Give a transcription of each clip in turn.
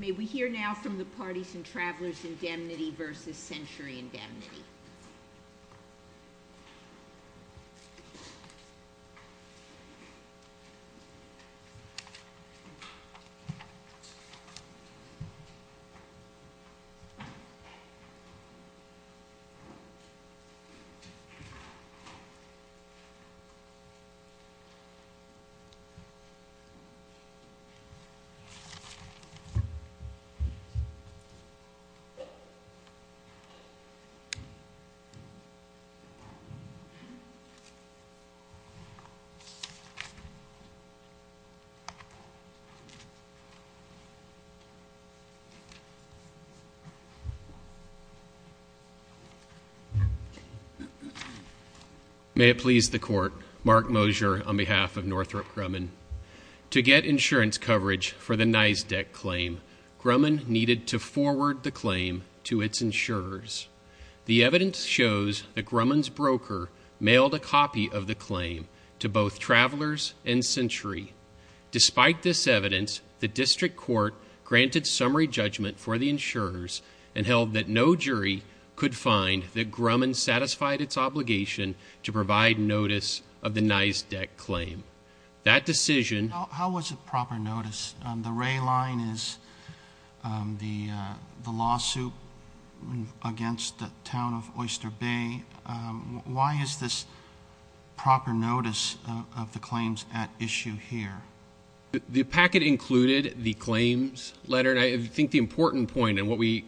May we hear now from the Parties and Travelers Indemnity v. Century Indemnity. May it please the Court, Mark Mosier on behalf of Northrop Grumman, to get insurance coverage for the NISDEC claim. Grumman needed to forward the claim to its insurers. The evidence shows that Grumman's broker mailed a copy of the claim to both Travelers and Century. Despite this evidence, the District Court granted summary judgment for the insurers and held that no jury could find that Grumman satisfied its obligation to provide notice of the NISDEC claim. That decision... How was it proper notice? The ray line is the lawsuit against the town of Oyster Bay. Why is this proper notice of the claims at issue here? The packet included the claims letter. I think the important point, and what we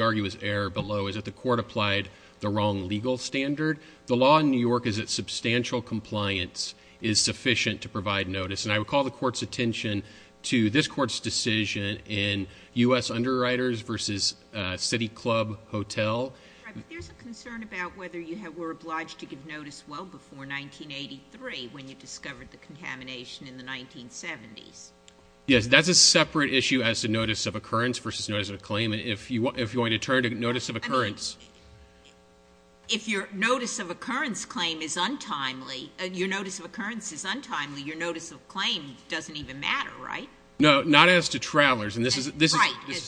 argue is error below, is that the Court applied the wrong legal standard. The law in New York is that substantial compliance is sufficient to provide notice. And I would call the Court's attention to this Court's decision in U.S. Underwriters v. City Club Hotel. Right, but there's a concern about whether you were obliged to give notice well before 1983 when you discovered the contamination in the 1970s. Yes, that's a separate issue as to notice of occurrence versus notice of claim. If you want to turn to notice of occurrence... I mean, if your notice of occurrence claim is untimely, your notice of claim doesn't even matter, right? No, not as to Travelers. Right, as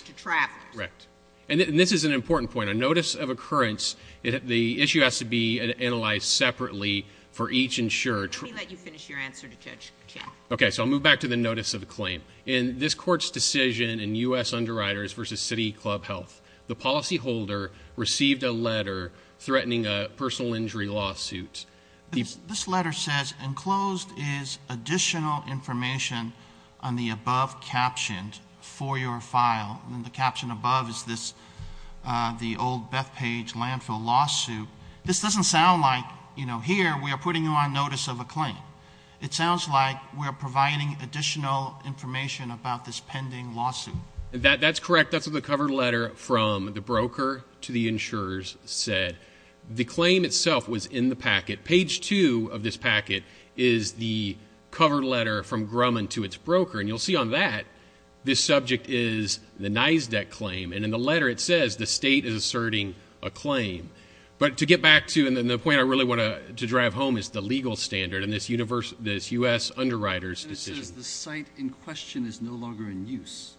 to Travelers. Correct. And this is an important point. A notice of occurrence, the issue has to be analyzed separately for each insurer. Let me let you finish your answer to Judge Chappell. Okay, so I'll move back to the notice of the claim. In this Court's decision in U.S. Underwriters v. City Club Health, the policyholder received a letter threatening a personal injury lawsuit. This letter says, enclosed is additional information on the above caption for your file. And the caption above is this, the old Beth Page landfill lawsuit. This doesn't sound like, you know, here we are putting you on notice of a claim. It sounds like we're providing additional information about this pending lawsuit. That's correct. That's what the cover letter from the broker to the insurers said. The claim itself was in the packet. Page 2 of this packet is the cover letter from Grumman to its broker. And you'll see on that, this subject is the NYSDEC claim. And in the letter it says the state is asserting a claim. But to get back to, and the point I really want to drive home is the legal standard in this U.S. Underwriters decision. And it says the site in question is no longer in use.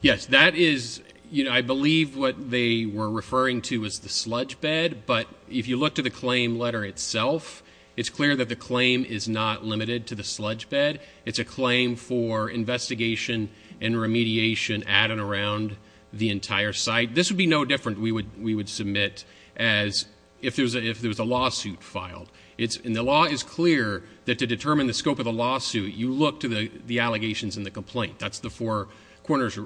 Yes, that is, you know, I believe what they were referring to is the sludge bed. But if you look to the claim letter itself, it's clear that the claim is not limited to the sludge bed. It's a claim for investigation and remediation at and around the entire site. This would be no different, we would submit, as if there was a lawsuit filed. And the law is clear that to determine the scope of the lawsuit, you look to the allegations in the complaint. That's the four corners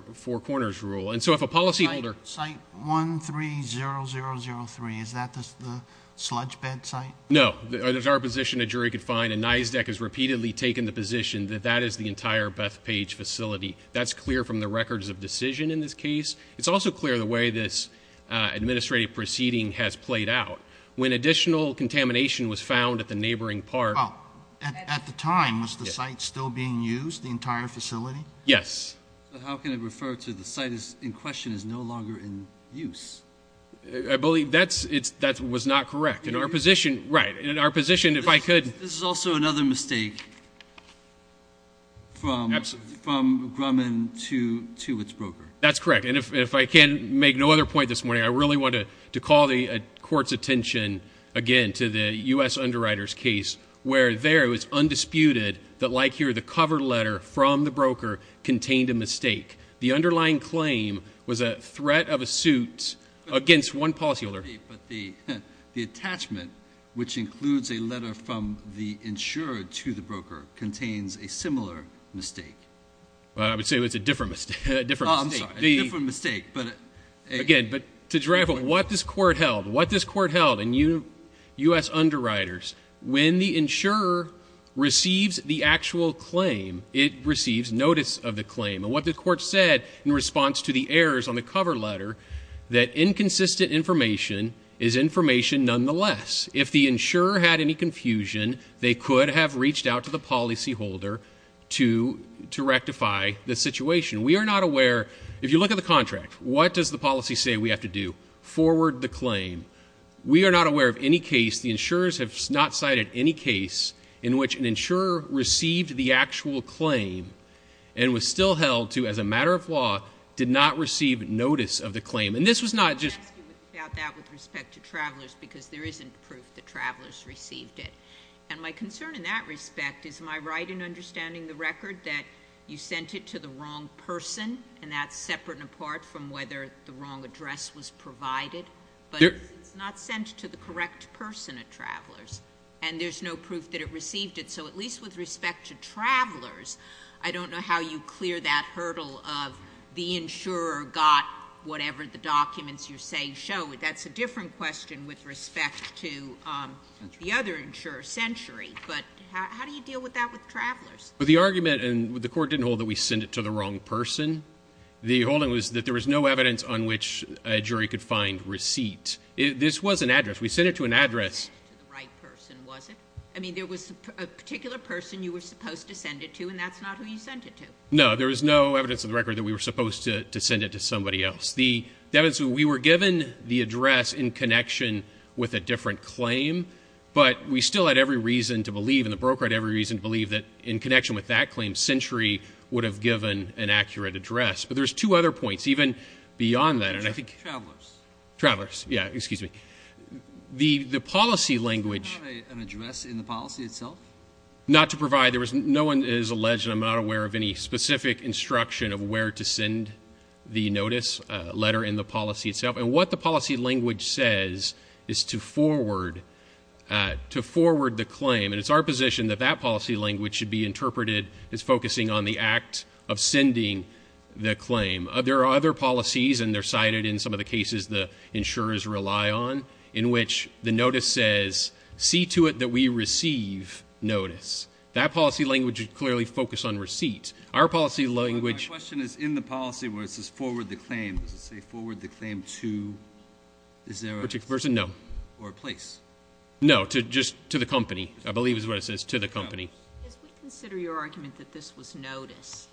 rule. And so if a policyholder... Site 130003, is that the sludge bed site? No. There's our position a jury could find, and NYSDEC has repeatedly taken the position that that is the entire Bethpage facility. That's clear from the records of decision in this case. It's also clear the way this administrative proceeding has played out. When additional contamination was found at the neighboring park... Oh, at the time, was the site still being used, the entire facility? Yes. How can it refer to the site in question is no longer in use? I believe that was not correct. In our position, right, in our position, if I could... This is also another mistake from Grumman to its broker. That's correct. And if I can make no other point this morning, I really want to call the court's attention again to the U.S. Underwriters case, where there it was undisputed that, like here, the cover letter from the broker contained a mistake. The underlying claim was a threat of a suit against one policyholder. But the attachment, which includes a letter from the insurer to the broker, contains a similar mistake. Well, I would say it was a different mistake. A different mistake. Oh, I'm sorry. A different mistake, but... Again, but to drive what this court held, what this court held, and U.S. Underwriters, when the insurer receives the actual claim, it receives notice of the claim. And what the court said in response to the errors on the cover letter, that inconsistent information is information nonetheless. If the insurer had any confusion, they could have reached out to the policyholder to rectify the situation. We are not aware, if you look at the contract, what does the policy say we have to do? Forward the claim. We are not aware of any case, the insurers have not cited any case, in which an insurer received the actual claim, and was still held to, as a matter of law, did not receive notice of the claim. And this was not just... I'm asking about that with respect to travelers, because there isn't proof that travelers received it. And my concern in that respect is, am I right in understanding the record that you sent it to the wrong person, and that's separate and apart from whether the wrong address was provided? There... But it's not sent to the correct person of travelers, and there's no proof that it received it. So at least with respect to travelers, I don't know how you clear that hurdle of the insurer got whatever the documents you're saying show. That's a different question with respect to the other insurer, Century. But how do you deal with that with travelers? The argument, and the court didn't hold that we sent it to the wrong person. The holding was that there was no evidence on which a jury could find receipt. This was an address. We sent it to an address. It wasn't sent to the right person, was it? I mean, there was a particular person you were supposed to send it to, and that's not who you sent it to. No, there was no evidence in the record that we were supposed to send it to somebody else. The evidence, we were given the address in connection with a different claim, but we still had every reason to believe, and the broker had every reason to believe that in connection with that claim, Century would have given an accurate address. But there's two other points, even beyond that, and I think... Travelers. Travelers. Yeah, excuse me. The policy language... Did you provide an address in the policy itself? Not to provide. There was... No one is alleged, and I'm not aware of any specific instruction of where to send the notice, letter, and the policy itself. And what the policy language says is to forward the claim, and it's our position that that policy language should be interpreted as focusing on the act of sending the claim. There are other policies, and they're cited in some of the cases the insurers rely on, in which the notice says, see to it that we receive notice. That policy language should clearly focus on receipt. Our policy language... The question is in the policy where it says forward the claim. Does it say forward the claim to... Is there a... Particular person? No. Or a place? No, just to the company. I believe is what it says, to the company. As we consider your argument that this was notice,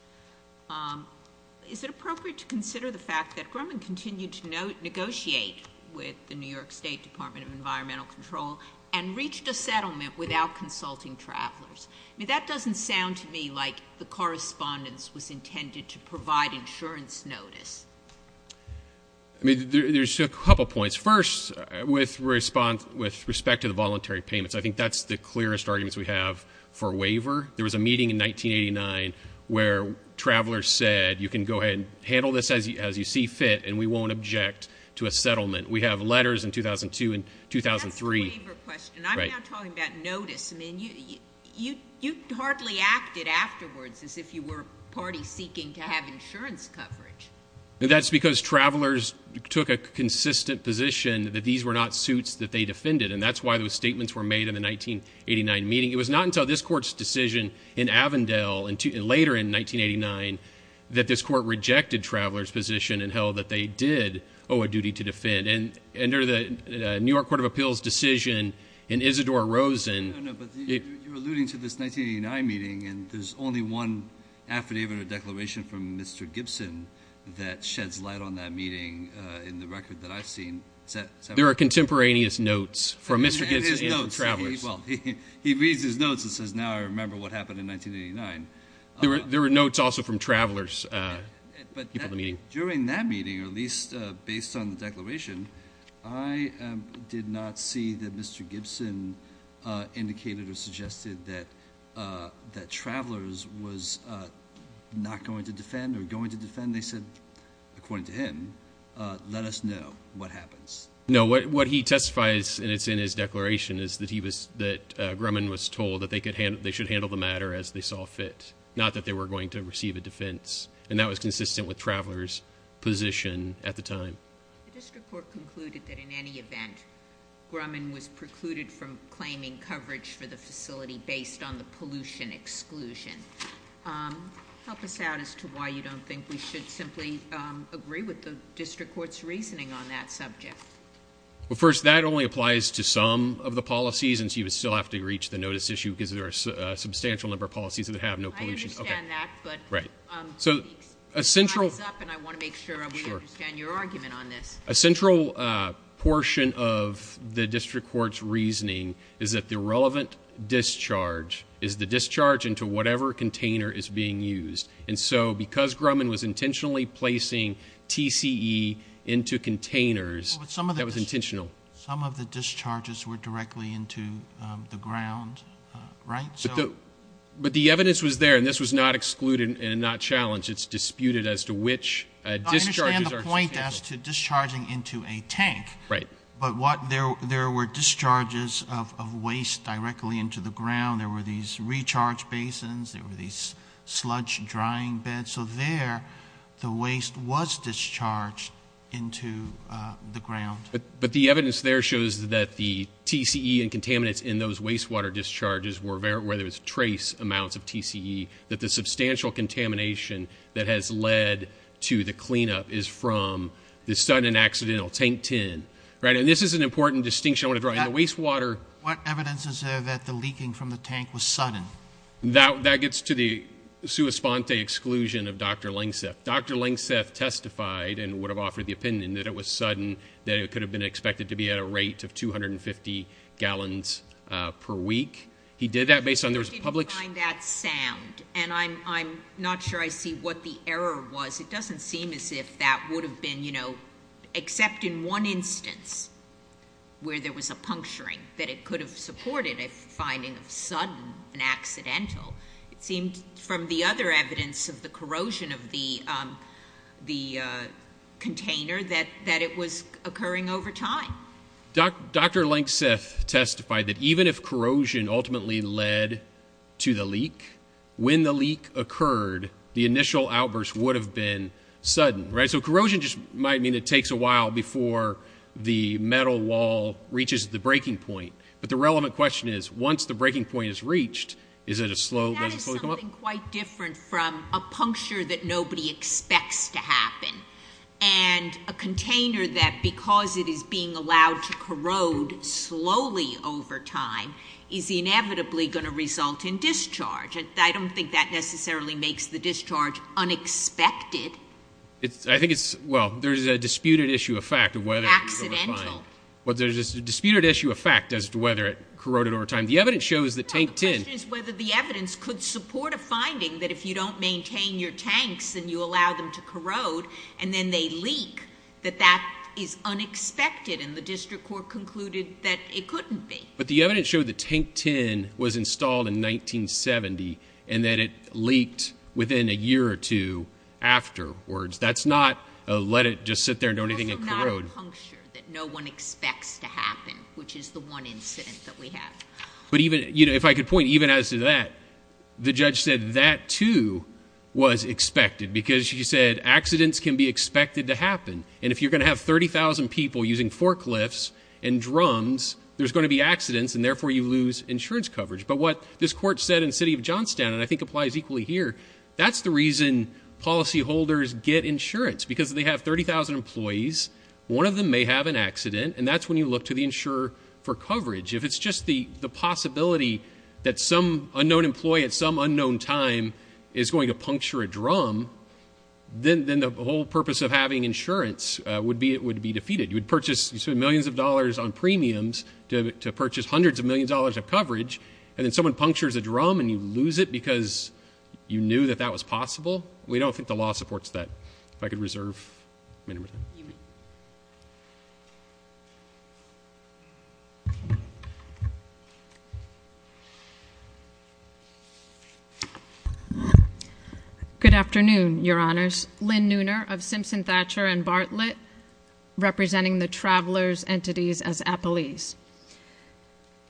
is it appropriate to consider the fact that Grumman continued to negotiate with the New York State Department of Environmental Control and reached a settlement without consulting travelers? I mean, that doesn't sound to me like the correspondence was intended to provide insurance notice. I mean, there's a couple points. First, with respect to the voluntary payments, I think that's the clearest arguments we have for waiver. There was a meeting in 1989 where travelers said, you can go ahead and handle this as you see fit, and we won't object to a settlement. We have letters in 2002 and 2003... That's the waiver question. Right. And you're now talking about notice. I mean, you hardly acted afterwards as if you were party seeking to have insurance coverage. That's because travelers took a consistent position that these were not suits that they defended, and that's why those statements were made in the 1989 meeting. It was not until this court's decision in Avondale later in 1989 that this court rejected travelers' position and held that they did owe a duty to defend. And under the New York Court of Appeals, Mr. Shador Rosen... No, no, but you're alluding to this 1989 meeting, and there's only one affidavit or declaration from Mr. Gibson that sheds light on that meeting in the record that I've seen. There are contemporaneous notes from Mr. Gibson and from travelers. And his notes. Well, he reads his notes and says, now I remember what happened in 1989. There were notes also from travelers before the meeting. During that meeting, or at least based on the declaration, I did not see that Mr. Gibson indicated or suggested that travelers was not going to defend or going to defend. They said, according to him, let us know what happens. No, what he testifies, and it's in his declaration, is that Grumman was told that they should handle the matter as they saw fit, not that they were going to receive a defense. And that was consistent with travelers' position at the time. The district court concluded that in any event, Grumman was precluded from claiming coverage for the facility based on the pollution exclusion. Help us out as to why you don't think we should simply agree with the district court's reasoning on that subject. Well, first, that only applies to some of the policies, and so you would still have to reach the notice issue, because there are a substantial number of policies that have no pollution. I understand that, but... Your time is up, and I want to make sure we understand your argument on this. A central portion of the district court's reasoning is that the relevant discharge is the discharge into whatever container is being used. And so, because Grumman was intentionally placing TCE into containers, that was intentional. Some of the discharges were directly into the ground, right? But the evidence was there, and this was not excluded and not challenged. It's disputed as to which discharges are... I understand the point as to discharging into a tank. But there were discharges of waste directly into the ground. There were these recharge basins. There were these sludge drying beds. So there, the waste was discharged into the ground. But the evidence there shows that the TCE and contaminants in those wastewater discharges were there, where there was trace amounts of TCE, that the substantial contamination that has led to the cleanup is from the sudden accidental tank tin, right? And this is an important distinction I want to draw. In the wastewater... What evidence is there that the leaking from the tank was sudden? That gets to the sua sponte exclusion of Dr. Langseth. Dr. Langseth testified and would have offered the opinion that it was sudden, that it could have been expected to be at a rate of 250 gallons per week. He did that based on... I didn't find that sound. And I'm not sure I see what the error was. It doesn't seem as if that would have been, you know, except in one instance where there was a puncturing that it could have supported a finding of sudden and accidental. It seemed from the other evidence of the corrosion of the container that it was occurring over time. Dr. Langseth testified that even if corrosion ultimately led to the leak, when the leak occurred, the initial outburst would have been sudden, right? So corrosion just might mean it takes a while before the metal wall reaches the breaking point. But the relevant question is, once the breaking point is reached, is it a slow... That is something quite different from a puncture that nobody expects to happen. And a container that, because it is being allowed to corrode slowly over time, is inevitably going to result in discharge. I don't think that necessarily makes the discharge unexpected. I think it's... Well, there's a disputed issue of fact of whether... Accidental. Well, there's a disputed issue of fact as to whether it corroded over time. The evidence shows that tank 10... Well, the question is whether the evidence could support a finding that if you don't That is unexpected, and the district court concluded that it couldn't be. But the evidence showed that tank 10 was installed in 1970, and that it leaked within a year or two afterwards. That's not a let it just sit there and don't anything and corrode. Also not a puncture that no one expects to happen, which is the one incident that we have. But even, you know, if I could point even as to that, the judge said that too was expected because she said accidents can be expected to happen. And if you're going to have 30,000 people using forklifts and drums, there's going to be accidents, and therefore you lose insurance coverage. But what this court said in the city of Johnstown, and I think applies equally here, that's the reason policyholders get insurance, because they have 30,000 employees. One of them may have an accident, and that's when you look to the insurer for coverage. If it's just the possibility that some unknown employee at some unknown time is going to then the whole purpose of having insurance would be it would be defeated. You would purchase millions of dollars on premiums to purchase hundreds of millions dollars of coverage, and then someone punctures a drum and you lose it because you knew that that was possible. We don't think the law supports that. If I could reserve my number. Good afternoon, your honors. Lynn Nooner of Simpson Thatcher and Bartlett, representing the travelers entities as appellees.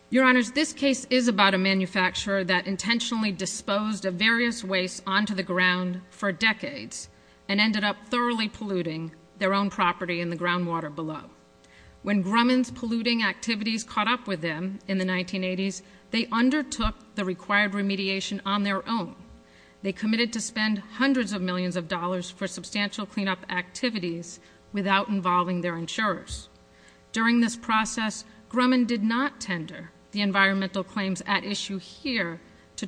Your honors, this case is about a manufacturer that intentionally disposed of various wastes onto the ground for decades and ended up thoroughly polluting their own property in the groundwater below. When Grumman's polluting activities caught up with them in the 1980s, they undertook the required remediation on their own. They committed to spend hundreds of millions of dollars for substantial cleanup activities without involving their insurers. During this process, Grumman did not tender the environmental claims at issue here to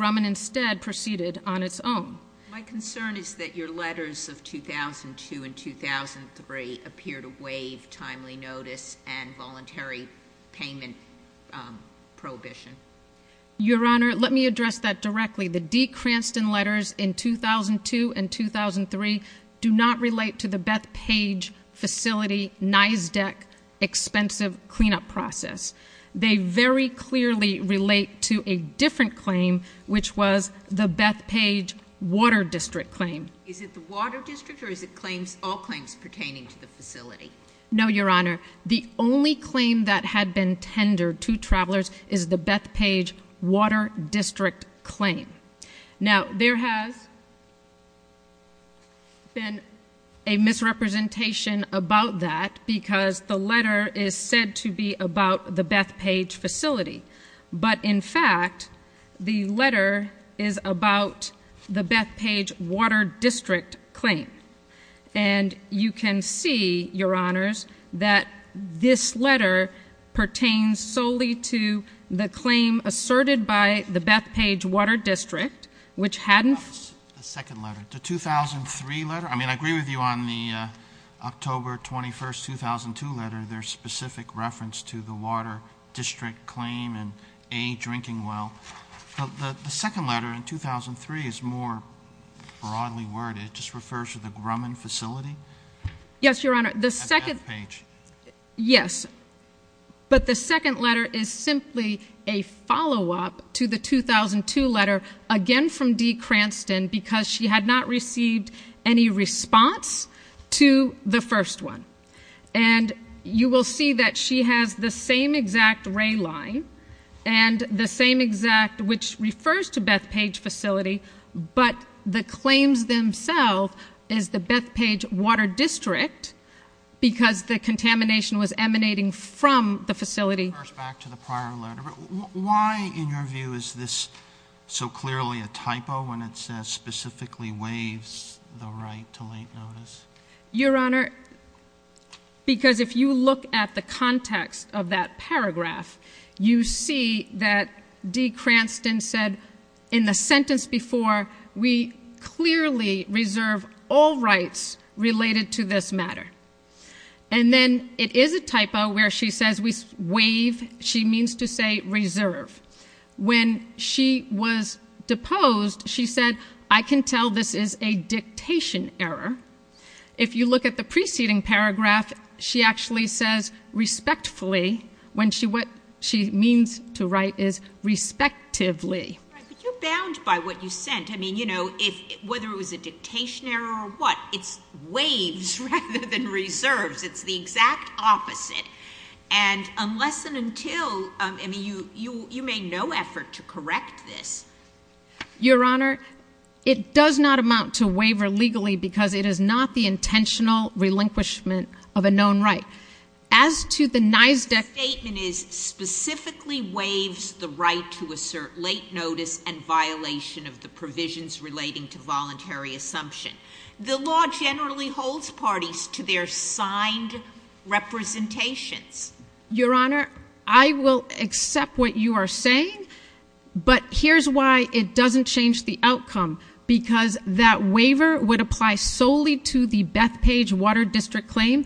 on its own. My concern is that your letters of 2002 and 2003 appear to waive timely notice and voluntary payment prohibition. Your honor, let me address that directly. The D. Cranston letters in 2002 and 2003 do not relate to the Bethpage facility NYSDEC expensive cleanup process. They very clearly relate to a different claim, which was the Bethpage water district claim. Is it the water district or is it claims, all claims pertaining to the facility? No, your honor. The only claim that had been tendered to travelers is the Bethpage water district claim. Now there has been a misrepresentation about that because the letter is said to be about the Bethpage facility. But in fact, the letter is about the Bethpage water district claim. And you can see, your honors, that this letter pertains solely to the claim asserted by the Bethpage water district, which hadn't The second letter, the 2003 letter. I mean, I agree with you on the October 21st, 2002 letter, their specific reference to the water district claim and a drinking well. The second letter in 2003 is more broadly worded. It just refers to the Grumman facility. Yes, your honor. The second page. Yes. But the second letter is simply a follow up to the 2002 letter again from D. Cranston because she had not received any response to the first one. And you will see that she has the same exact ray line and the same exact which refers to Bethpage facility. But the claims themselves is the Bethpage water district because the contamination was emanating from the facility back to the prior letter. Why in your view is this so clearly a typo when it says specifically waives the right to late notice? Your honor, because if you look at the context of that paragraph, you see that D. Cranston said in the sentence before, we clearly reserve all rights related to this matter. And then it is a typo where she says we wave. She means to say reserve. When she was deposed, she said, I can tell this is a dictation error. If you look at the preceding paragraph, she actually says respectfully when she what she means to write is respectively. You're bound by what you sent. I mean, you know, if whether it was a dictation error or what, it's waves rather than reserves. It's the exact opposite. And I would say no effort to correct this. Your honor, it does not amount to waiver legally because it is not the intentional relinquishment of a known right. As to the nice deck statement is specifically waves the right to assert late notice and violation of the provisions relating to voluntary assumption. The law generally holds parties to their signed representations. Your honor, I will accept what you are saying, but here's why it doesn't change the outcome because that waiver would apply solely to the Bethpage Water District claim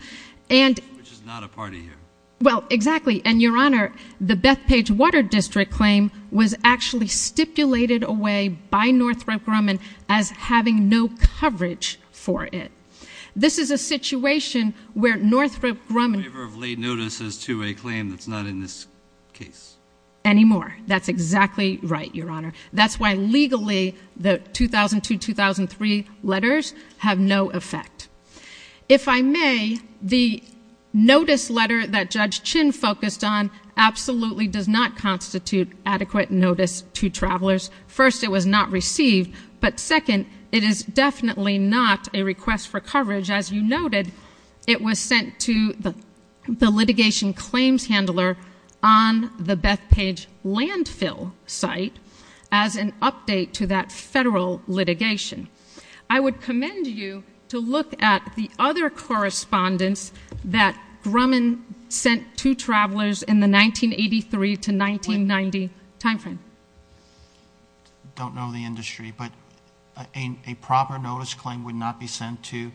and which is not a party here. Well, exactly. And your honor, the Bethpage Water District claim was actually stipulated away by Northrop Grumman as having no coverage for it. This is a situation where Northrop Grumman. Waiver of late notices to a claim that's not in this case. Anymore. That's exactly right, your honor. That's why legally the 2002-2003 letters have no effect. If I may, the notice letter that Judge Chin focused on absolutely does not constitute adequate notice to travelers. First, it was not received, but second, it is definitely not a request for coverage. As you noted, it was sent to the litigation claims handler on the Bethpage landfill site as an update to that federal litigation. I would commend you to look at the other correspondence that Grumman sent to travelers in the 1983-1990 time frame. I don't know the industry, but a proper notice claim would not be sent to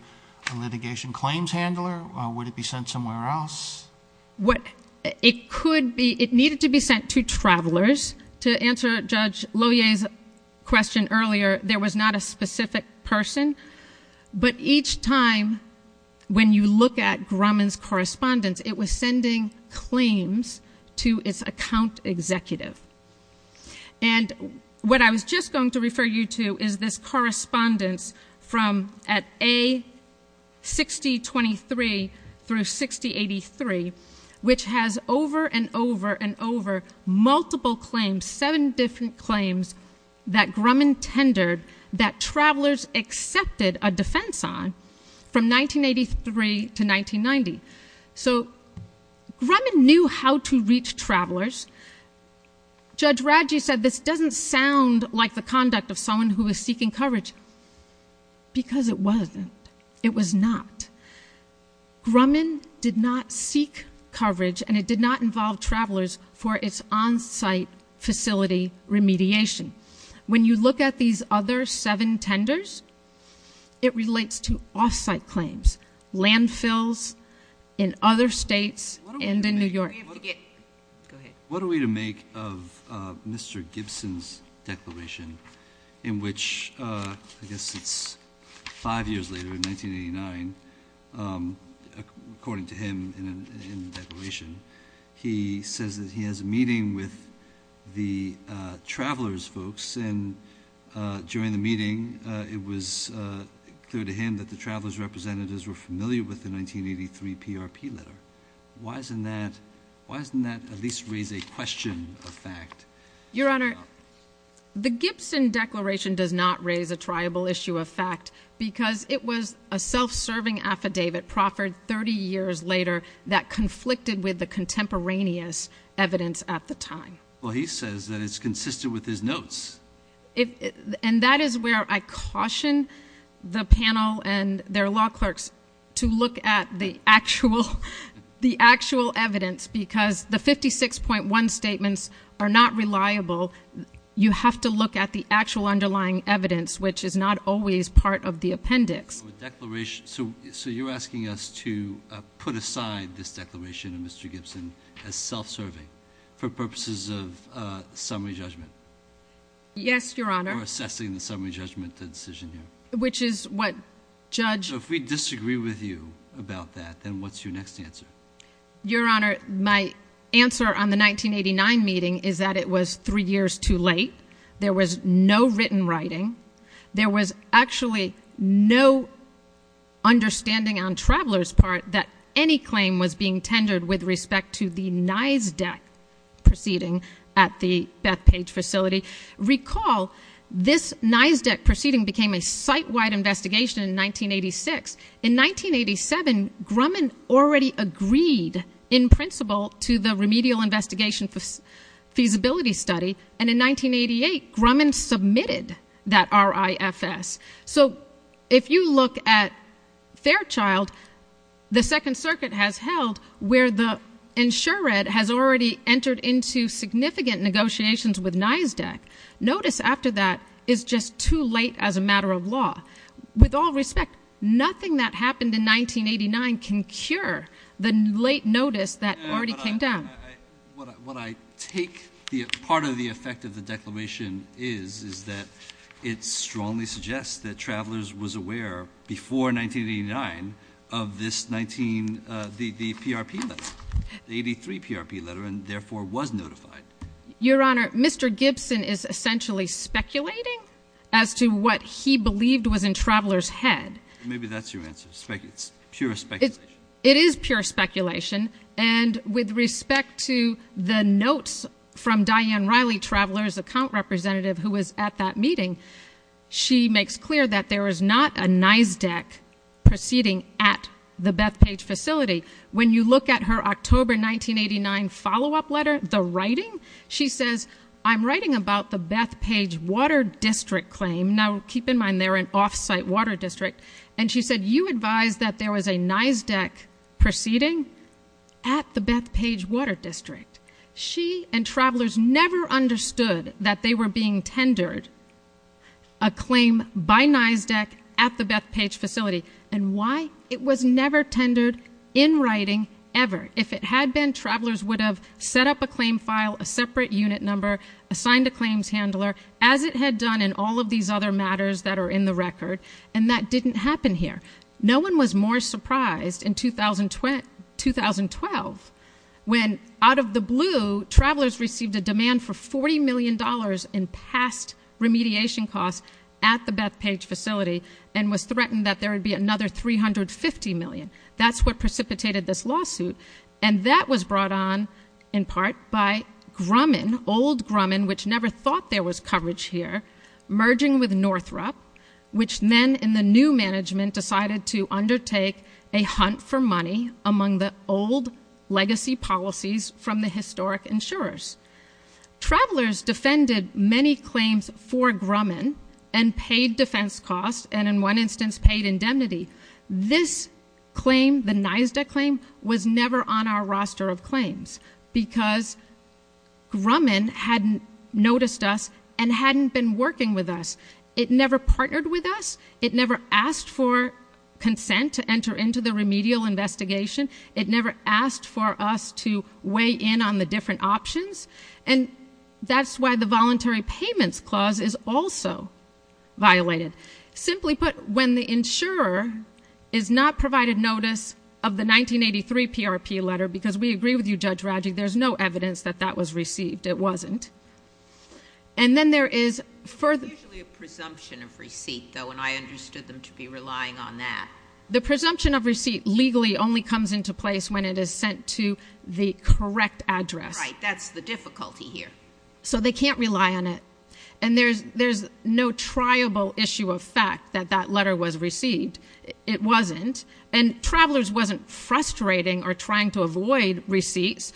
a litigation claims handler? Would it be sent somewhere else? It could be. It needed to be sent to travelers. To answer Judge Lohier's question earlier, there was not a specific person, but each time when you look at Grumman's correspondence, it was sending claims to its account executive. What I was just going to refer you to is this correspondence from at A6023 through 6083, which has over and over and over multiple claims, seven different claims that Grumman tendered that travelers accepted a defense on from 1983 to 1990. Grumman knew how to reach travelers. Judge Radji said this doesn't sound like the conduct of someone who is seeking coverage because it wasn't. It was not. Grumman did not seek coverage, and it did not involve travelers for its on-site facility remediation. When you look at these other seven tenders, it relates to off-site claims, landfills in other states and in New York. What are we to make of Mr. Gibson's declaration in which, I guess it's five years later in 1989, according to him in the declaration, he says that he has a meeting with the travelers folks. During the meeting, it was clear to him that the travelers' representatives were familiar with the 1983 PRP letter. Why doesn't that at least raise a question of fact? Your Honor, the Gibson declaration does not raise a triable issue of fact because it was a self-serving affidavit proffered 30 years later that conflicted with the contemporaneous evidence at the time. Well, he says that it's consistent with his notes. That is where I caution the panel and their law clerks to look at the actual evidence because the 56.1 statements are not reliable. You have to look at the actual underlying evidence, which is not always part of the appendix. So you're asking us to put aside this declaration of Mr. Gibson as self-serving for purposes of summary judgment? Yes, Your Honor. Or assessing the summary judgment decision here? Which is what Judge... So if we disagree with you about that, then what's your next answer? Your Honor, my answer on the 1989 meeting is that it was three years too late. There was no written writing. There was actually no understanding on Traveler's part that any claim was being tendered with respect to the NISDEC proceeding at the Bethpage facility. Recall this NISDEC proceeding became a site-wide investigation in 1986. In 1987, Grumman already agreed in principle to the remedial investigation feasibility study, and in 1988, Grumman submitted that RIFS. So if you look at Fairchild, the Second Circuit has held where the insured has already entered into significant negotiations with NISDEC. Notice after that is just too late as a matter of law. With all respect, nothing that happened in 1989 can cure the late notice that already came down. What I take part of the effect of the declaration is, is that it strongly suggests that Traveler's was aware before 1989 of the PRP letter, the 83 PRP letter, and therefore was notified. Your Honor, Mr. Gibson is essentially speculating as to what he believed was in Traveler's head. Maybe that's your answer, pure speculation. It is pure speculation, and with respect to the notes from Diane Riley, Traveler's account representative who was at that meeting, she makes clear that there was not a NISDEC proceeding at the Bethpage facility. When you look at her October 1989 follow-up letter, the writing, she says, I'm writing about the Bethpage Water District claim. Now keep in mind they're an off-site water district. And she said, you advised that there was a NISDEC proceeding at the Bethpage Water District. She and Traveler's never understood that they were being tendered a claim by NISDEC at the time. It was never tendered in writing, ever. If it had been, Traveler's would have set up a claim file, a separate unit number, assigned a claims handler, as it had done in all of these other matters that are in the record, and that didn't happen here. No one was more surprised in 2012 when, out of the blue, Traveler's received a demand for $40 million in past remediation costs at the Bethpage facility and was threatened that there would be another $350 million. That's what precipitated this lawsuit. And that was brought on, in part, by Grumman, old Grumman, which never thought there was coverage here, merging with Northrop, which then, in the new management, decided to undertake a hunt for money among the old legacy policies from the historic insurers. Traveler's defended many claims for Grumman and paid defense costs and, in one instance, paid indemnity. This claim, the NISDEC claim, was never on our roster of claims because Grumman hadn't noticed us and hadn't been working with us. It never partnered with us. It never asked for consent to enter into the remedial investigation. It never asked for us to weigh in on the different options. And that's why the Voluntary Payments Clause is also violated. Simply put, when the insurer is not provided notice of the 1983 PRP letter, because we agree with you, Judge Radjic, there's no evidence that that was received. It wasn't. And then there is further— It's usually a presumption of receipt, though, and I understood them to be relying on that. The presumption of receipt legally only comes into place when it is sent to the correct address. Right. That's the difficulty here. So they can't rely on it. And there's no triable issue of fact that that letter was received. It wasn't. And Travelers wasn't frustrating or trying to avoid receipts.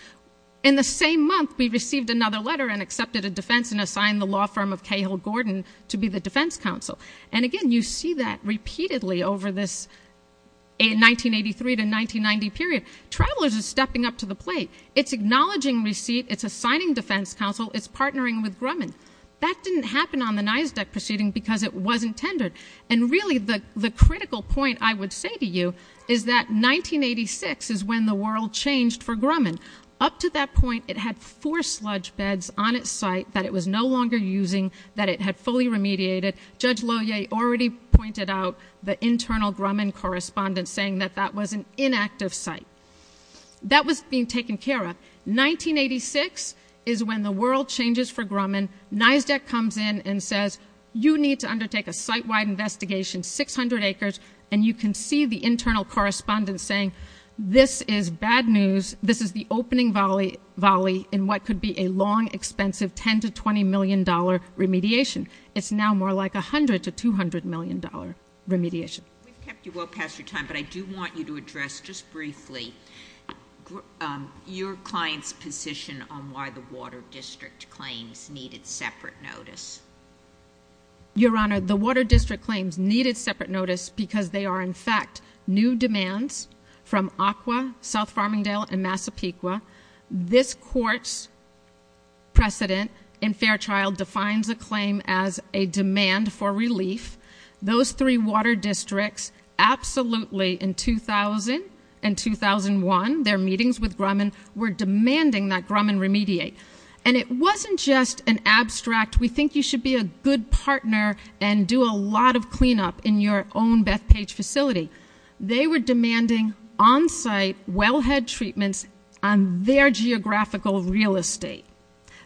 In the same month, we received another letter and accepted a defense and assigned the law firm of Cahill Gordon to be the defense counsel. And again, you see that repeatedly over this 1983 to 1990 period. Travelers is stepping up to the plate. It's acknowledging receipt. It's assigning defense counsel. It's partnering with Grumman. That didn't happen on the NISDUC proceeding because it wasn't tendered. And really, the critical point I would say to you is that 1986 is when the world changed for Grumman. Up to that point, it had four sludge beds on its site that it was no longer using, that it had fully remediated. Judge Lohier already pointed out the internal Grumman correspondent saying that that was an inactive site. That was being taken care of. 1986 is when the world changes for Grumman. NISDUC comes in and says, you need to undertake a site-wide investigation, 600 acres. And you can see the internal correspondent saying, this is bad news. This is the opening volley in what could be a long, expensive $10 to $20 million remediation. It's now more like $100 to $200 million remediation. We've kept you well past your time, but I do want you to address just briefly your client's position on why the Water District claims needed separate notice. Your Honor, the Water District claims needed separate notice because they are, in fact, new demands from ACWA, South Farmingdale, and Massapequa. This court's precedent in Fairchild defines a claim as a demand for relief. Those three water districts, absolutely, in 2000 and 2001, their meetings with Grumman were demanding that Grumman remediate. And it wasn't just an abstract, we think you should be a good partner and do a lot of cleanup in your own Bethpage facility. They were demanding on-site wellhead treatments on their geographical real estate.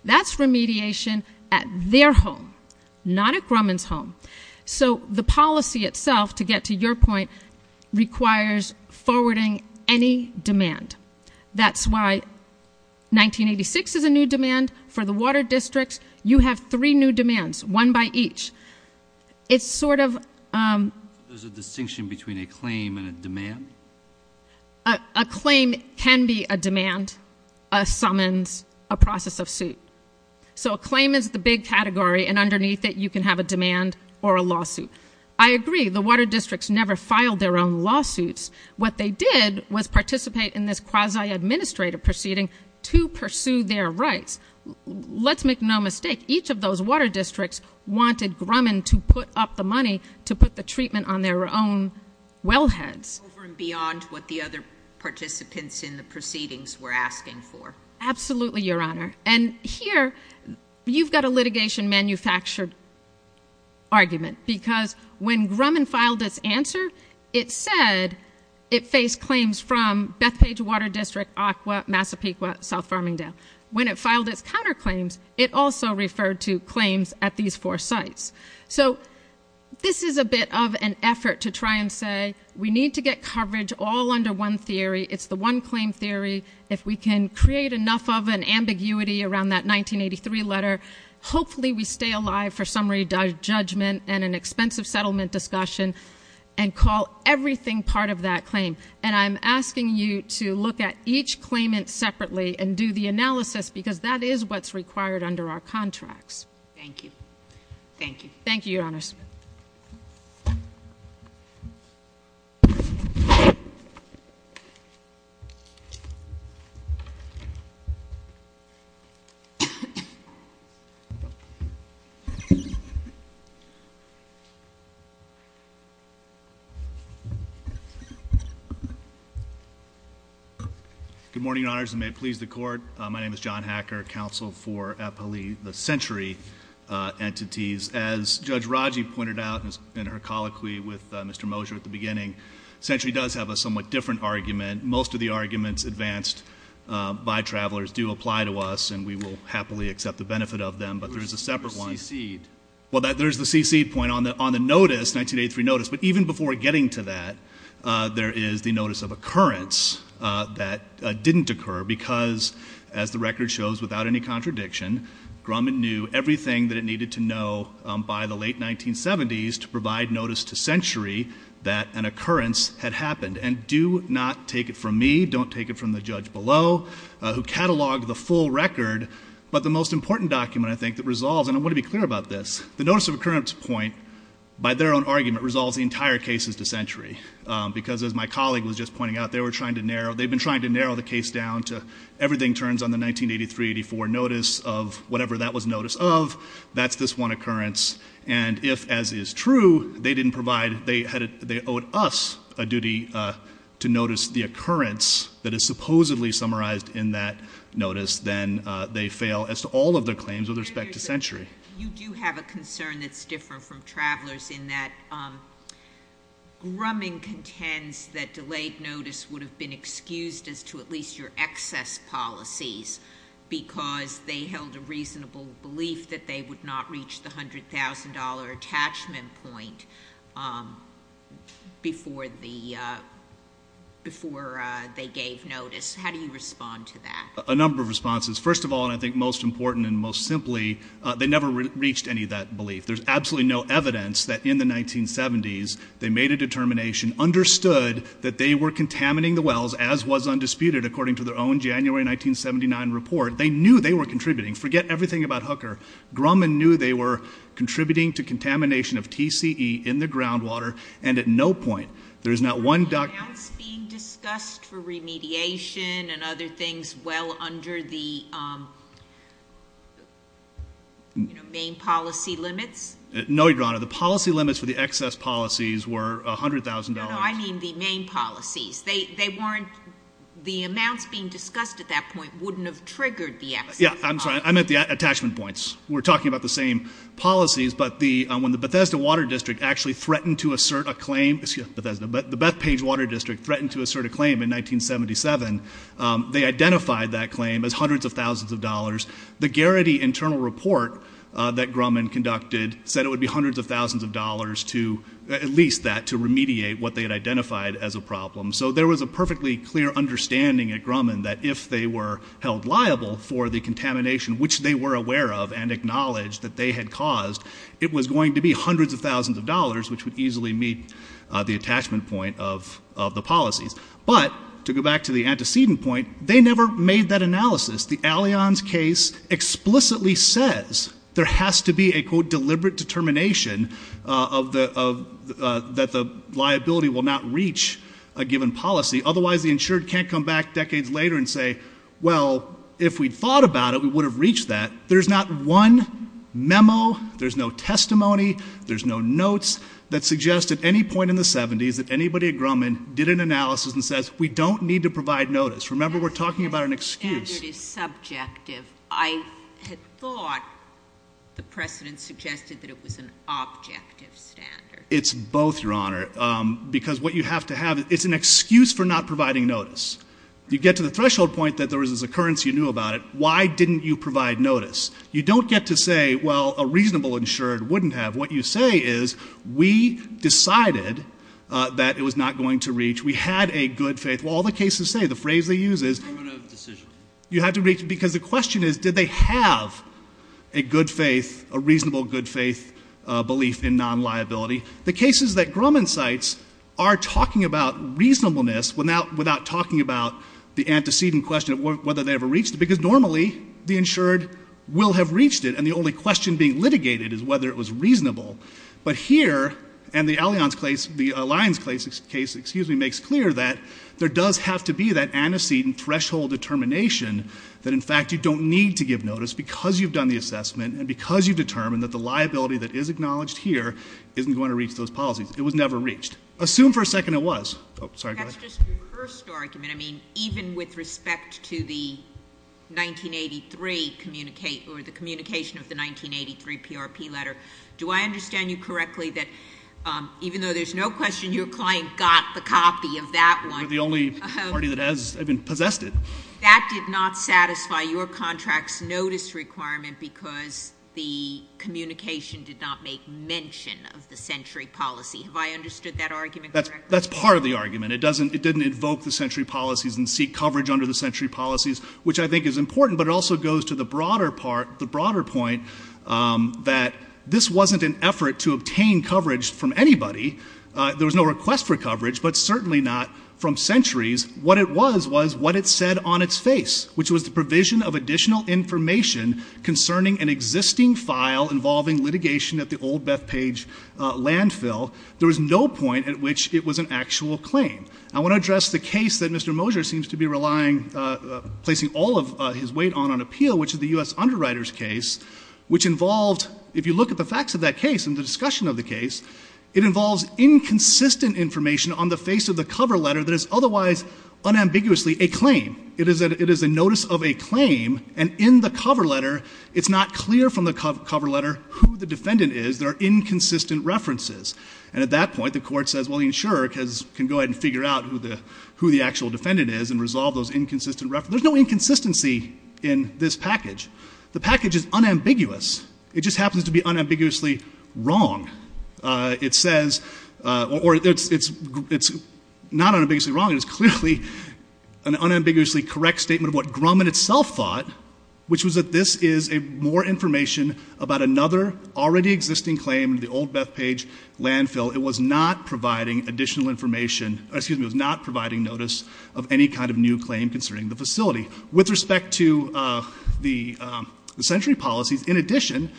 That's remediation at their home, not at Grumman's home. So the policy itself, to get to your point, requires forwarding any demand. That's why 1986 is a new demand for the water districts. You have three new demands, one by each. It's sort of- There's a distinction between a claim and a demand? A claim can be a demand, a summons, a process of suit. So a claim is the big category, and underneath it, you can have a demand or a lawsuit. I agree, the water districts never filed their own lawsuits. What they did was participate in this quasi-administrative proceeding to pursue their rights. Let's make no mistake, each of those water districts wanted Grumman to put up the money to put the treatment on their own wellheads. Over and beyond what the other participants in the proceedings were asking for. Absolutely, Your Honor. And here, you've got a litigation manufactured argument, because when Grumman filed its answer, it said it faced claims from Bethpage Water District, Aqua, Massapequa, South Farmingdale. When it filed its counterclaims, it also referred to claims at these four sites. So this is a bit of an effort to try and say, we need to get coverage all under one theory. It's the one claim theory. If we can create enough of an ambiguity around that 1983 letter, hopefully we stay alive for summary judgment and an expensive settlement discussion. And call everything part of that claim. And I'm asking you to look at each claimant separately and do the analysis, because that is what's required under our contracts. Thank you. Thank you. Thank you, Your Honors. Good morning, Your Honors, and may it please the court. My name is John Hacker, counsel for the Century Entities. As Judge Raji pointed out in her colloquy with Mr. Mosher at the beginning, Century does have a somewhat different argument. Most of the arguments advanced by travelers do apply to us, and we will happily accept the benefit of them. But there's a separate one. The CC'd. Well, there's the CC'd point on the 1983 notice. But even before getting to that, there is the notice of occurrence that didn't occur. Because, as the record shows without any contradiction, Grumman knew everything that it needed to know by the late 1970s to provide notice to Century that an occurrence had happened. And do not take it from me, don't take it from the judge below, who cataloged the full record. But the most important document, I think, that resolves, and I want to be clear about this. The notice of occurrence point, by their own argument, resolves the entire case as to Century. Because as my colleague was just pointing out, they've been trying to narrow the case down to everything turns on the 1983-84 notice of whatever that was notice of. That's this one occurrence. And if, as is true, they didn't provide, they owed us a duty to notice the occurrence that is supposedly summarized in that notice. Then they fail as to all of their claims with respect to Century. You do have a concern that's different from Traveler's in that Grumman contends that delayed notice would have been excused as to at least your excess policies. Because they held a reasonable belief that they would not reach the $100,000 attachment point before they gave notice. How do you respond to that? A number of responses. First of all, and I think most important and most simply, they never reached any of that belief. There's absolutely no evidence that in the 1970s, they made a determination, understood that they were contaminating the wells, as was undisputed according to their own January 1979 report. They knew they were contributing. Forget everything about Hooker. Grumman knew they were contributing to contamination of TCE in the groundwater. And at no point, there's not one- Were the amounts being discussed for remediation and other things well under the main policy limits? No, Your Honor. The policy limits for the excess policies were $100,000. No, no, I mean the main policies. They weren't, the amounts being discussed at that point wouldn't have triggered the excess policies. Yeah, I'm sorry. I meant the attachment points. We're talking about the same policies, but when the Bethesda Water District actually threatened to assert a claim. Bethesda, the Bethpage Water District threatened to assert a claim in 1977. They identified that claim as hundreds of thousands of dollars. The Garrity internal report that Grumman conducted said it would be hundreds of thousands of dollars to, at least that, to remediate what they had identified as a problem. So there was a perfectly clear understanding at Grumman that if they were held liable for the contamination, which they were aware of and acknowledged that they had caused, it was going to be hundreds of thousands of dollars, which would easily meet the attachment point of the policies. But to go back to the antecedent point, they never made that analysis. The Allianz case explicitly says there has to be a, quote, deliberate determination that the liability will not reach a given policy. Otherwise, the insured can't come back decades later and say, well, if we'd thought about it, we would have reached that. There's not one memo, there's no testimony, there's no notes that suggest at any point in the 70s that anybody at Grumman did an analysis and says, we don't need to provide notice. Remember, we're talking about an excuse. The standard is subjective. I had thought the precedent suggested that it was an objective standard. It's both, Your Honor, because what you have to have, it's an excuse for not providing notice. You get to the threshold point that there was this occurrence, you knew about it. Why didn't you provide notice? You don't get to say, well, a reasonable insured wouldn't have. What you say is, we decided that it was not going to reach. We had a good faith. Well, all the cases say, the phrase they use is- Terminative decision. You had to reach, because the question is, did they have a good faith, a reasonable good faith belief in non-liability? The cases that Grumman cites are talking about reasonableness without talking about the antecedent question of whether they ever reached it. Because normally, the insured will have reached it, and the only question being litigated is whether it was reasonable. But here, and the Alliance case, excuse me, makes clear that there does have to be that antecedent threshold determination that in fact, you don't need to give notice because you've done the assessment and because you've determined that the liability that is acknowledged here isn't going to reach those policies. It was never reached. Assume for a second it was. Sorry, go ahead. That's just your first argument. I mean, even with respect to the 1983 communicate, or the communication of the 1983 PRP letter. Do I understand you correctly that even though there's no question your client got the copy of that one- We're the only party that has, I mean, possessed it. That did not satisfy your contract's notice requirement because the communication did not make mention of the century policy. Have I understood that argument correctly? That's part of the argument. It didn't invoke the century policies and seek coverage under the century policies, which I think is important. But it also goes to the broader point that this wasn't an effort to obtain coverage from anybody. There was no request for coverage, but certainly not from centuries. What it was was what it said on its face, which was the provision of additional information concerning an existing file involving litigation at the old Bethpage landfill. There was no point at which it was an actual claim. I want to address the case that Mr. Moser seems to be placing all of his weight on on appeal, which is the US Underwriters case. Which involved, if you look at the facts of that case and the discussion of the case, it involves inconsistent information on the face of the cover letter that is otherwise unambiguously a claim. It is a notice of a claim, and in the cover letter, it's not clear from the cover letter who the defendant is, there are inconsistent references. And at that point, the court says, well, the insurer can go ahead and figure out who the actual defendant is and resolve those inconsistent references. There's no inconsistency in this package. The package is unambiguous. It just happens to be unambiguously wrong. It says, or it's not unambiguously wrong, it's clearly an unambiguously correct statement of what Grumman itself thought. Which was that this is more information about another already existing claim in the old Bethpage landfill. It was not providing additional information, excuse me, it was not providing notice of any kind of new claim concerning the facility. With respect to the century policies, in addition,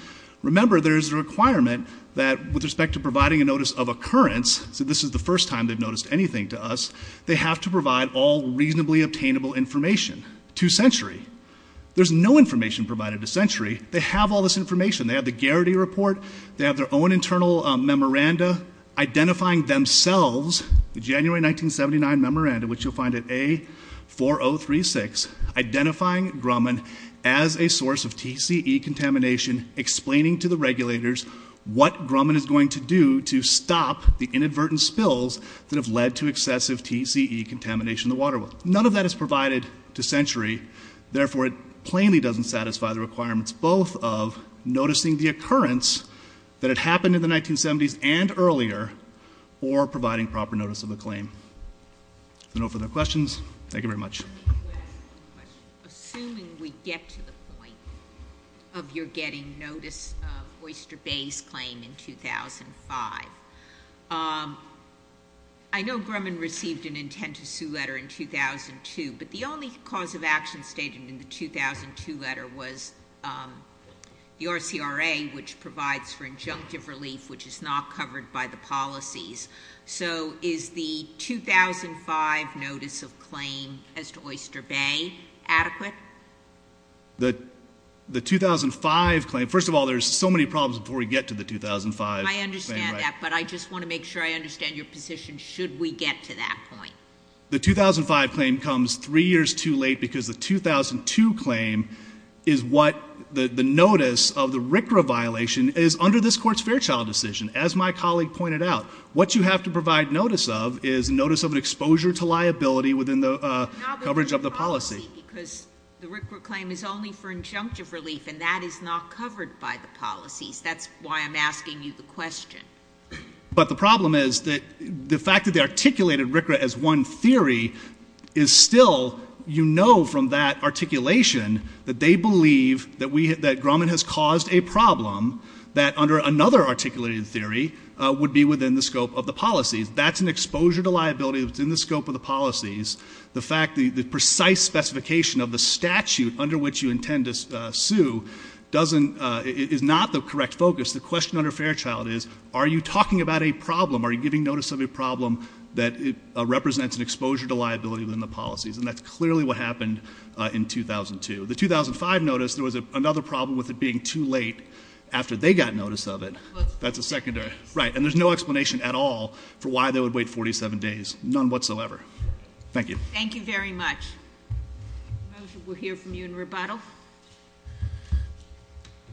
remember there's a requirement that with respect to providing a notice of occurrence, so this is the first time they've noticed anything to us. They have to provide all reasonably obtainable information to Century. There's no information provided to Century. They have all this information. They have the Garrity Report. They have their own internal memoranda identifying themselves, the January 1979 memoranda, which you'll find at A4036, identifying Grumman as a source of TCE contamination, explaining to the regulators what Grumman is going to do to stop the inadvertent spills that have led to excessive TCE contamination in the water well. None of that is provided to Century. Therefore, it plainly doesn't satisfy the requirements both of noticing the occurrence that it happened in the 1970s and earlier, or providing proper notice of the claim. If there are no further questions, thank you very much. I have a question. Assuming we get to the point of your getting notice of Oyster Bay's claim in 2005. I know Grumman received an intent to sue letter in 2002, but the only cause of action stated in the 2002 letter was the RCRA, which provides for injunctive relief, which is not covered by the policies. So is the 2005 notice of claim as to Oyster Bay adequate? The 2005 claim, first of all, there's so many problems before we get to the 2005. I understand that, but I just want to make sure I understand your position should we get to that point. The 2005 claim comes three years too late because the 2002 claim is what the notice of the RCRA violation is under this court's Fairchild decision. As my colleague pointed out, what you have to provide notice of is notice of an exposure to liability within the coverage of the policy. Because the RCRA claim is only for injunctive relief and that is not covered by the policies. That's why I'm asking you the question. But the problem is that the fact that they articulated RCRA as one theory is still, you know from that articulation that they believe that Grumman has caused a problem. That under another articulated theory would be within the scope of the policies. That's an exposure to liability within the scope of the policies. The fact, the precise specification of the statute under which you intend to sue is not the correct focus. The question under Fairchild is, are you talking about a problem? Are you giving notice of a problem that represents an exposure to liability within the policies? And that's clearly what happened in 2002. The 2005 notice, there was another problem with it being too late after they got notice of it. That's a secondary. Right, and there's no explanation at all for why they would wait 47 days. None whatsoever. Thank you. Thank you very much. I don't know if we'll hear from you in rebuttal.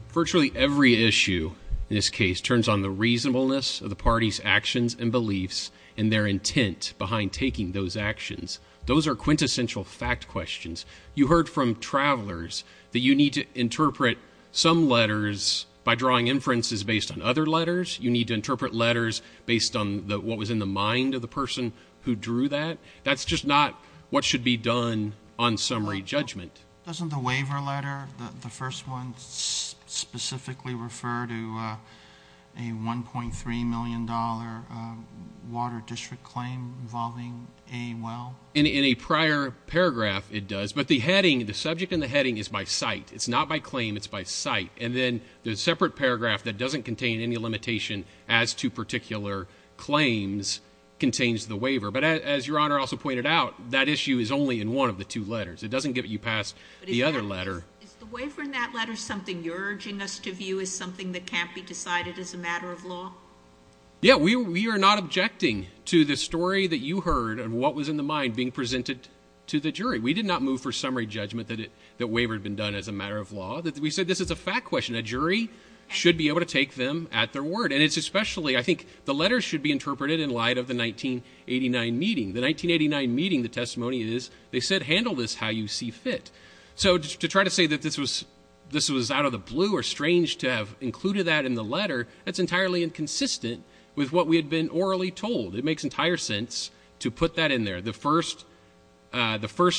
Virtually every issue in this case turns on the reasonableness of the party's actions and beliefs and their intent behind taking those actions. Those are quintessential fact questions. You heard from travelers that you need to interpret some letters by drawing inferences based on other letters. You need to interpret letters based on what was in the mind of the person who drew that. That's just not what should be done on summary judgment. Doesn't the waiver letter, the first one, specifically refer to a $1.3 million water district claim involving a well? In a prior paragraph, it does. But the heading, the subject in the heading is by site. It's not by claim, it's by site. And then the separate paragraph that doesn't contain any limitation as to particular claims contains the waiver. But as your honor also pointed out, that issue is only in one of the two letters. It doesn't get you past the other letter. Is the waiver in that letter something you're urging us to view as something that can't be decided as a matter of law? Yeah, we are not objecting to the story that you heard and what was in the mind being presented to the jury. We did not move for summary judgment that waiver had been done as a matter of law. We said this is a fact question. A jury should be able to take them at their word. And it's especially, I think, the letters should be interpreted in light of the 1989 meeting. The 1989 meeting, the testimony is, they said handle this how you see fit. So to try to say that this was out of the blue or strange to have included that in the letter, that's entirely inconsistent with what we had been orally told. It makes entire sense to put that in there. The first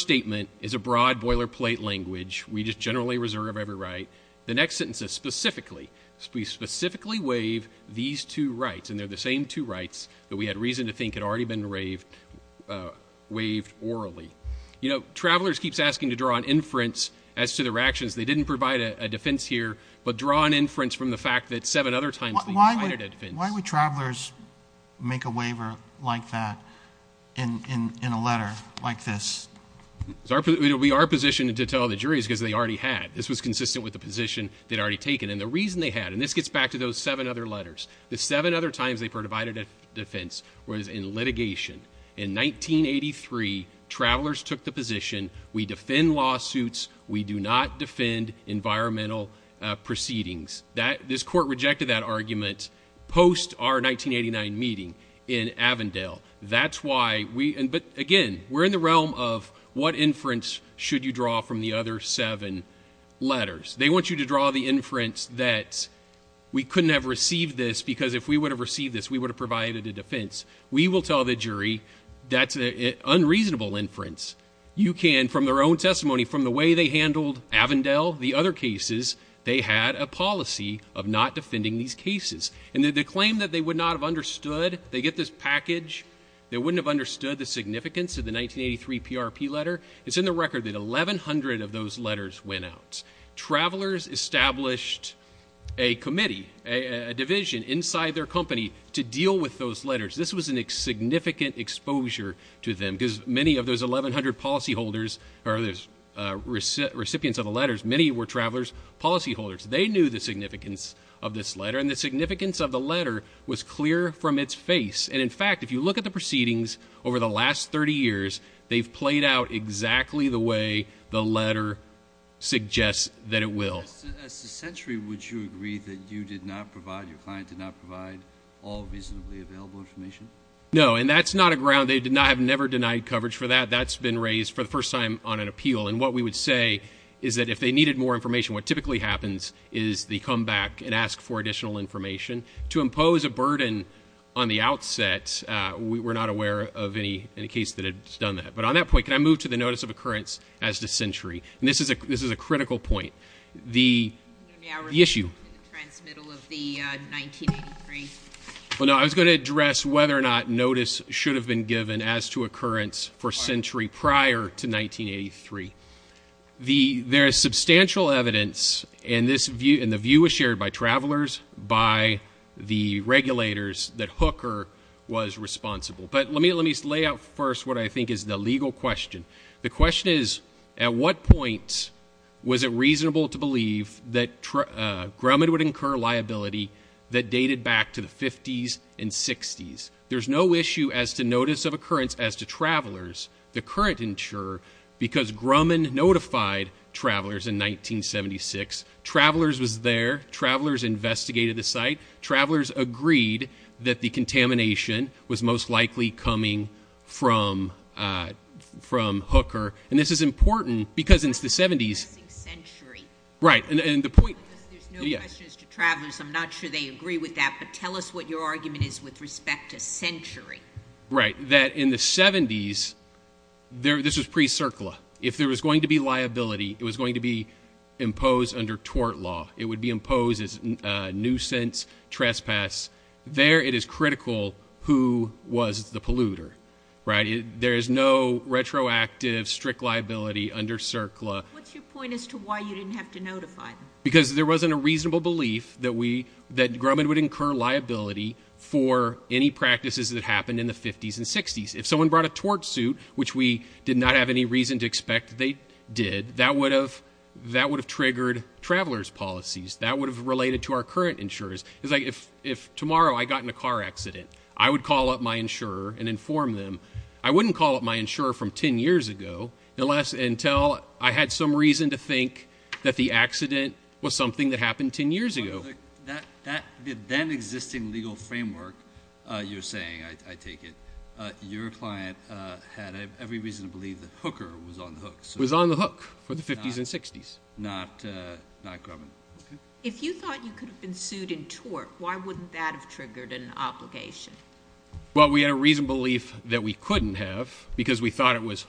statement is a broad boilerplate language. We just generally reserve every right. The next sentence is specifically. We specifically waive these two rights. And they're the same two rights that we had reason to think had already been waived orally. Travelers keeps asking to draw an inference as to their actions. They didn't provide a defense here. But draw an inference from the fact that seven other times- Why would travelers make a waiver like that in a letter like this? We are positioned to tell the juries because they already had. This was consistent with the position they'd already taken. And the reason they had, and this gets back to those seven other letters. The seven other times they provided a defense was in litigation. In 1983, travelers took the position. We defend lawsuits. We do not defend environmental proceedings. This court rejected that argument post our 1989 meeting in Avondale. That's why we- But again, we're in the realm of what inference should you draw from the other seven letters. They want you to draw the inference that we couldn't have received this. Because if we would have received this, we would have provided a defense. We will tell the jury that's an unreasonable inference. You can, from their own testimony, from the way they handled Avondale, the other cases, they had a policy of not defending these cases. And the claim that they would not have understood- They get this package. They wouldn't have understood the significance of the 1983 PRP letter. It's in the record that 1,100 of those letters went out. Travelers established a committee, a division inside their company to deal with those letters. This was a significant exposure to them. Because many of those 1,100 policyholders, or recipients of the letters, many were travelers, policyholders. They knew the significance of this letter. And the significance of the letter was clear from its face. And in fact, if you look at the proceedings over the last 30 years, they've played out exactly the way the letter suggests that it will. As to Century, would you agree that you did not provide, your client did not provide all reasonably available information? No, and that's not a ground. They have never denied coverage for that. That's been raised for the first time on an appeal. And what we would say is that if they needed more information, what typically happens is they come back and ask for additional information. To impose a burden on the outset, we're not aware of any case that has done that. But on that point, can I move to the notice of occurrence as to Century? And this is a critical point. The issue- Transmittal of the 1983. Well, no, I was going to address whether or not notice should have been given as to occurrence for Century prior to 1983. There is substantial evidence, and the view was shared by travelers, by the regulators that Hooker was responsible. But let me lay out first what I think is the legal question. The question is, at what point was it reasonable to believe that Grumman would incur liability that dated back to the 50s and 60s? There's no issue as to notice of occurrence as to travelers. The current insurer, because Grumman notified travelers in 1976, travelers was there, travelers investigated the site. Travelers agreed that the contamination was most likely coming from Hooker. And this is important because it's the 70s. I'm not sure they agree with that, but tell us what your argument is with respect to Century. Right, that in the 70s, this was pre-CIRCLA. If there was going to be liability, it was going to be imposed under tort law. It would be imposed as nuisance, trespass. There it is critical who was the polluter, right? There is no retroactive, strict liability under CIRCLA. What's your point as to why you didn't have to notify them? Because there wasn't a reasonable belief that Grumman would incur liability for any practices that happened in the 50s and 60s. If someone brought a tort suit, which we did not have any reason to expect they did, that would have triggered traveler's policies, that would have related to our current insurers. It's like if tomorrow I got in a car accident, I would call up my insurer and inform them. I wouldn't call up my insurer from ten years ago, unless until I had some reason to think that the accident was something that happened ten years ago. The then existing legal framework, you're saying, I take it, your client had every reason to believe that Hooker was on the hook. Was on the hook for the 50s and 60s. Not Grumman. If you thought you could have been sued in tort, why wouldn't that have triggered an obligation? Well, we had a reason belief that we couldn't have, because we thought it was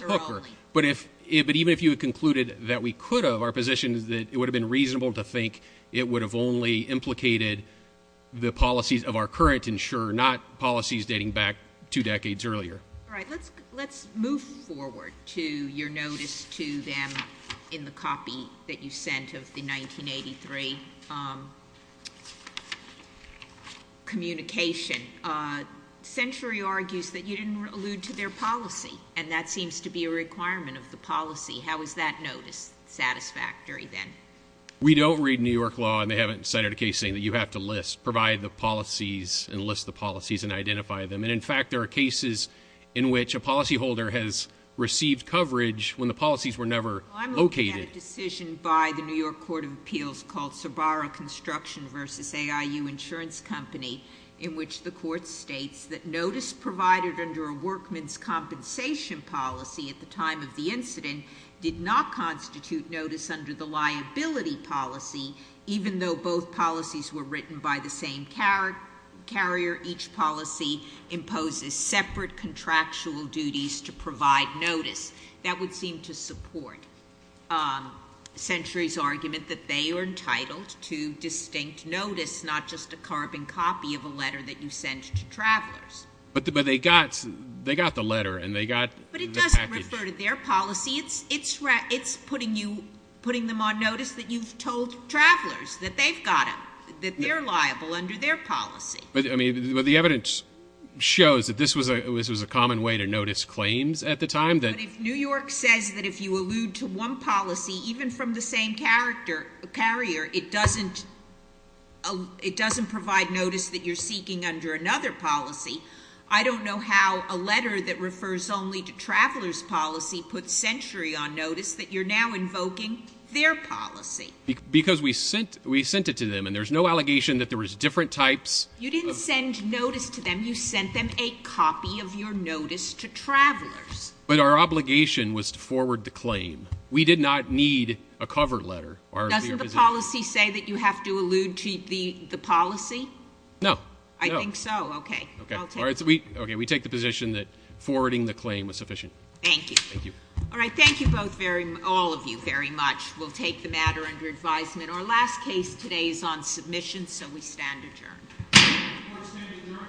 Hooker. But even if you had concluded that we could have, our position is that it would have been reasonable to think it would have only implicated the policies of our current insurer, not policies dating back two decades earlier. All right, let's move forward to your notice to them in the copy that you sent of the 1983 communication. Century argues that you didn't allude to their policy, and that seems to be a requirement of the policy. How is that notice satisfactory then? We don't read New York law, and they haven't cited a case saying that you have to list, provide the policies, and list the policies, and identify them. And in fact, there are cases in which a policy holder has received coverage when the policies were never located. I'm looking at a decision by the New York Court of Appeals called Sabara Construction versus AIU Insurance Company in which the court states that notice provided under a workman's compensation policy at the time of the incident did not constitute notice under the liability policy. Even though both policies were written by the same carrier, each policy imposes separate contractual duties to provide notice. That would seem to support Century's argument that they are entitled to distinct notice, not just a carbon copy of a letter that you sent to travelers. But they got the letter, and they got the package. But it doesn't refer to their policy. It's putting them on notice that you've told travelers that they've got them, that they're liable under their policy. But the evidence shows that this was a common way to notice claims at the time. New York says that if you allude to one policy, even from the same carrier, it doesn't provide notice that you're seeking under another policy. I don't know how a letter that refers only to traveler's policy puts Century on notice that you're now invoking their policy. Because we sent it to them, and there's no allegation that there was different types. You didn't send notice to them, you sent them a copy of your notice to travelers. But our obligation was to forward the claim. We did not need a cover letter. Doesn't the policy say that you have to allude to the policy? No. I think so, okay. I'll take the- Okay, we take the position that forwarding the claim was sufficient. Thank you. Thank you. All right, thank you all of you very much. We'll take the matter under advisement. Our last case today is on submission, so we stand adjourned. All standing adjourned.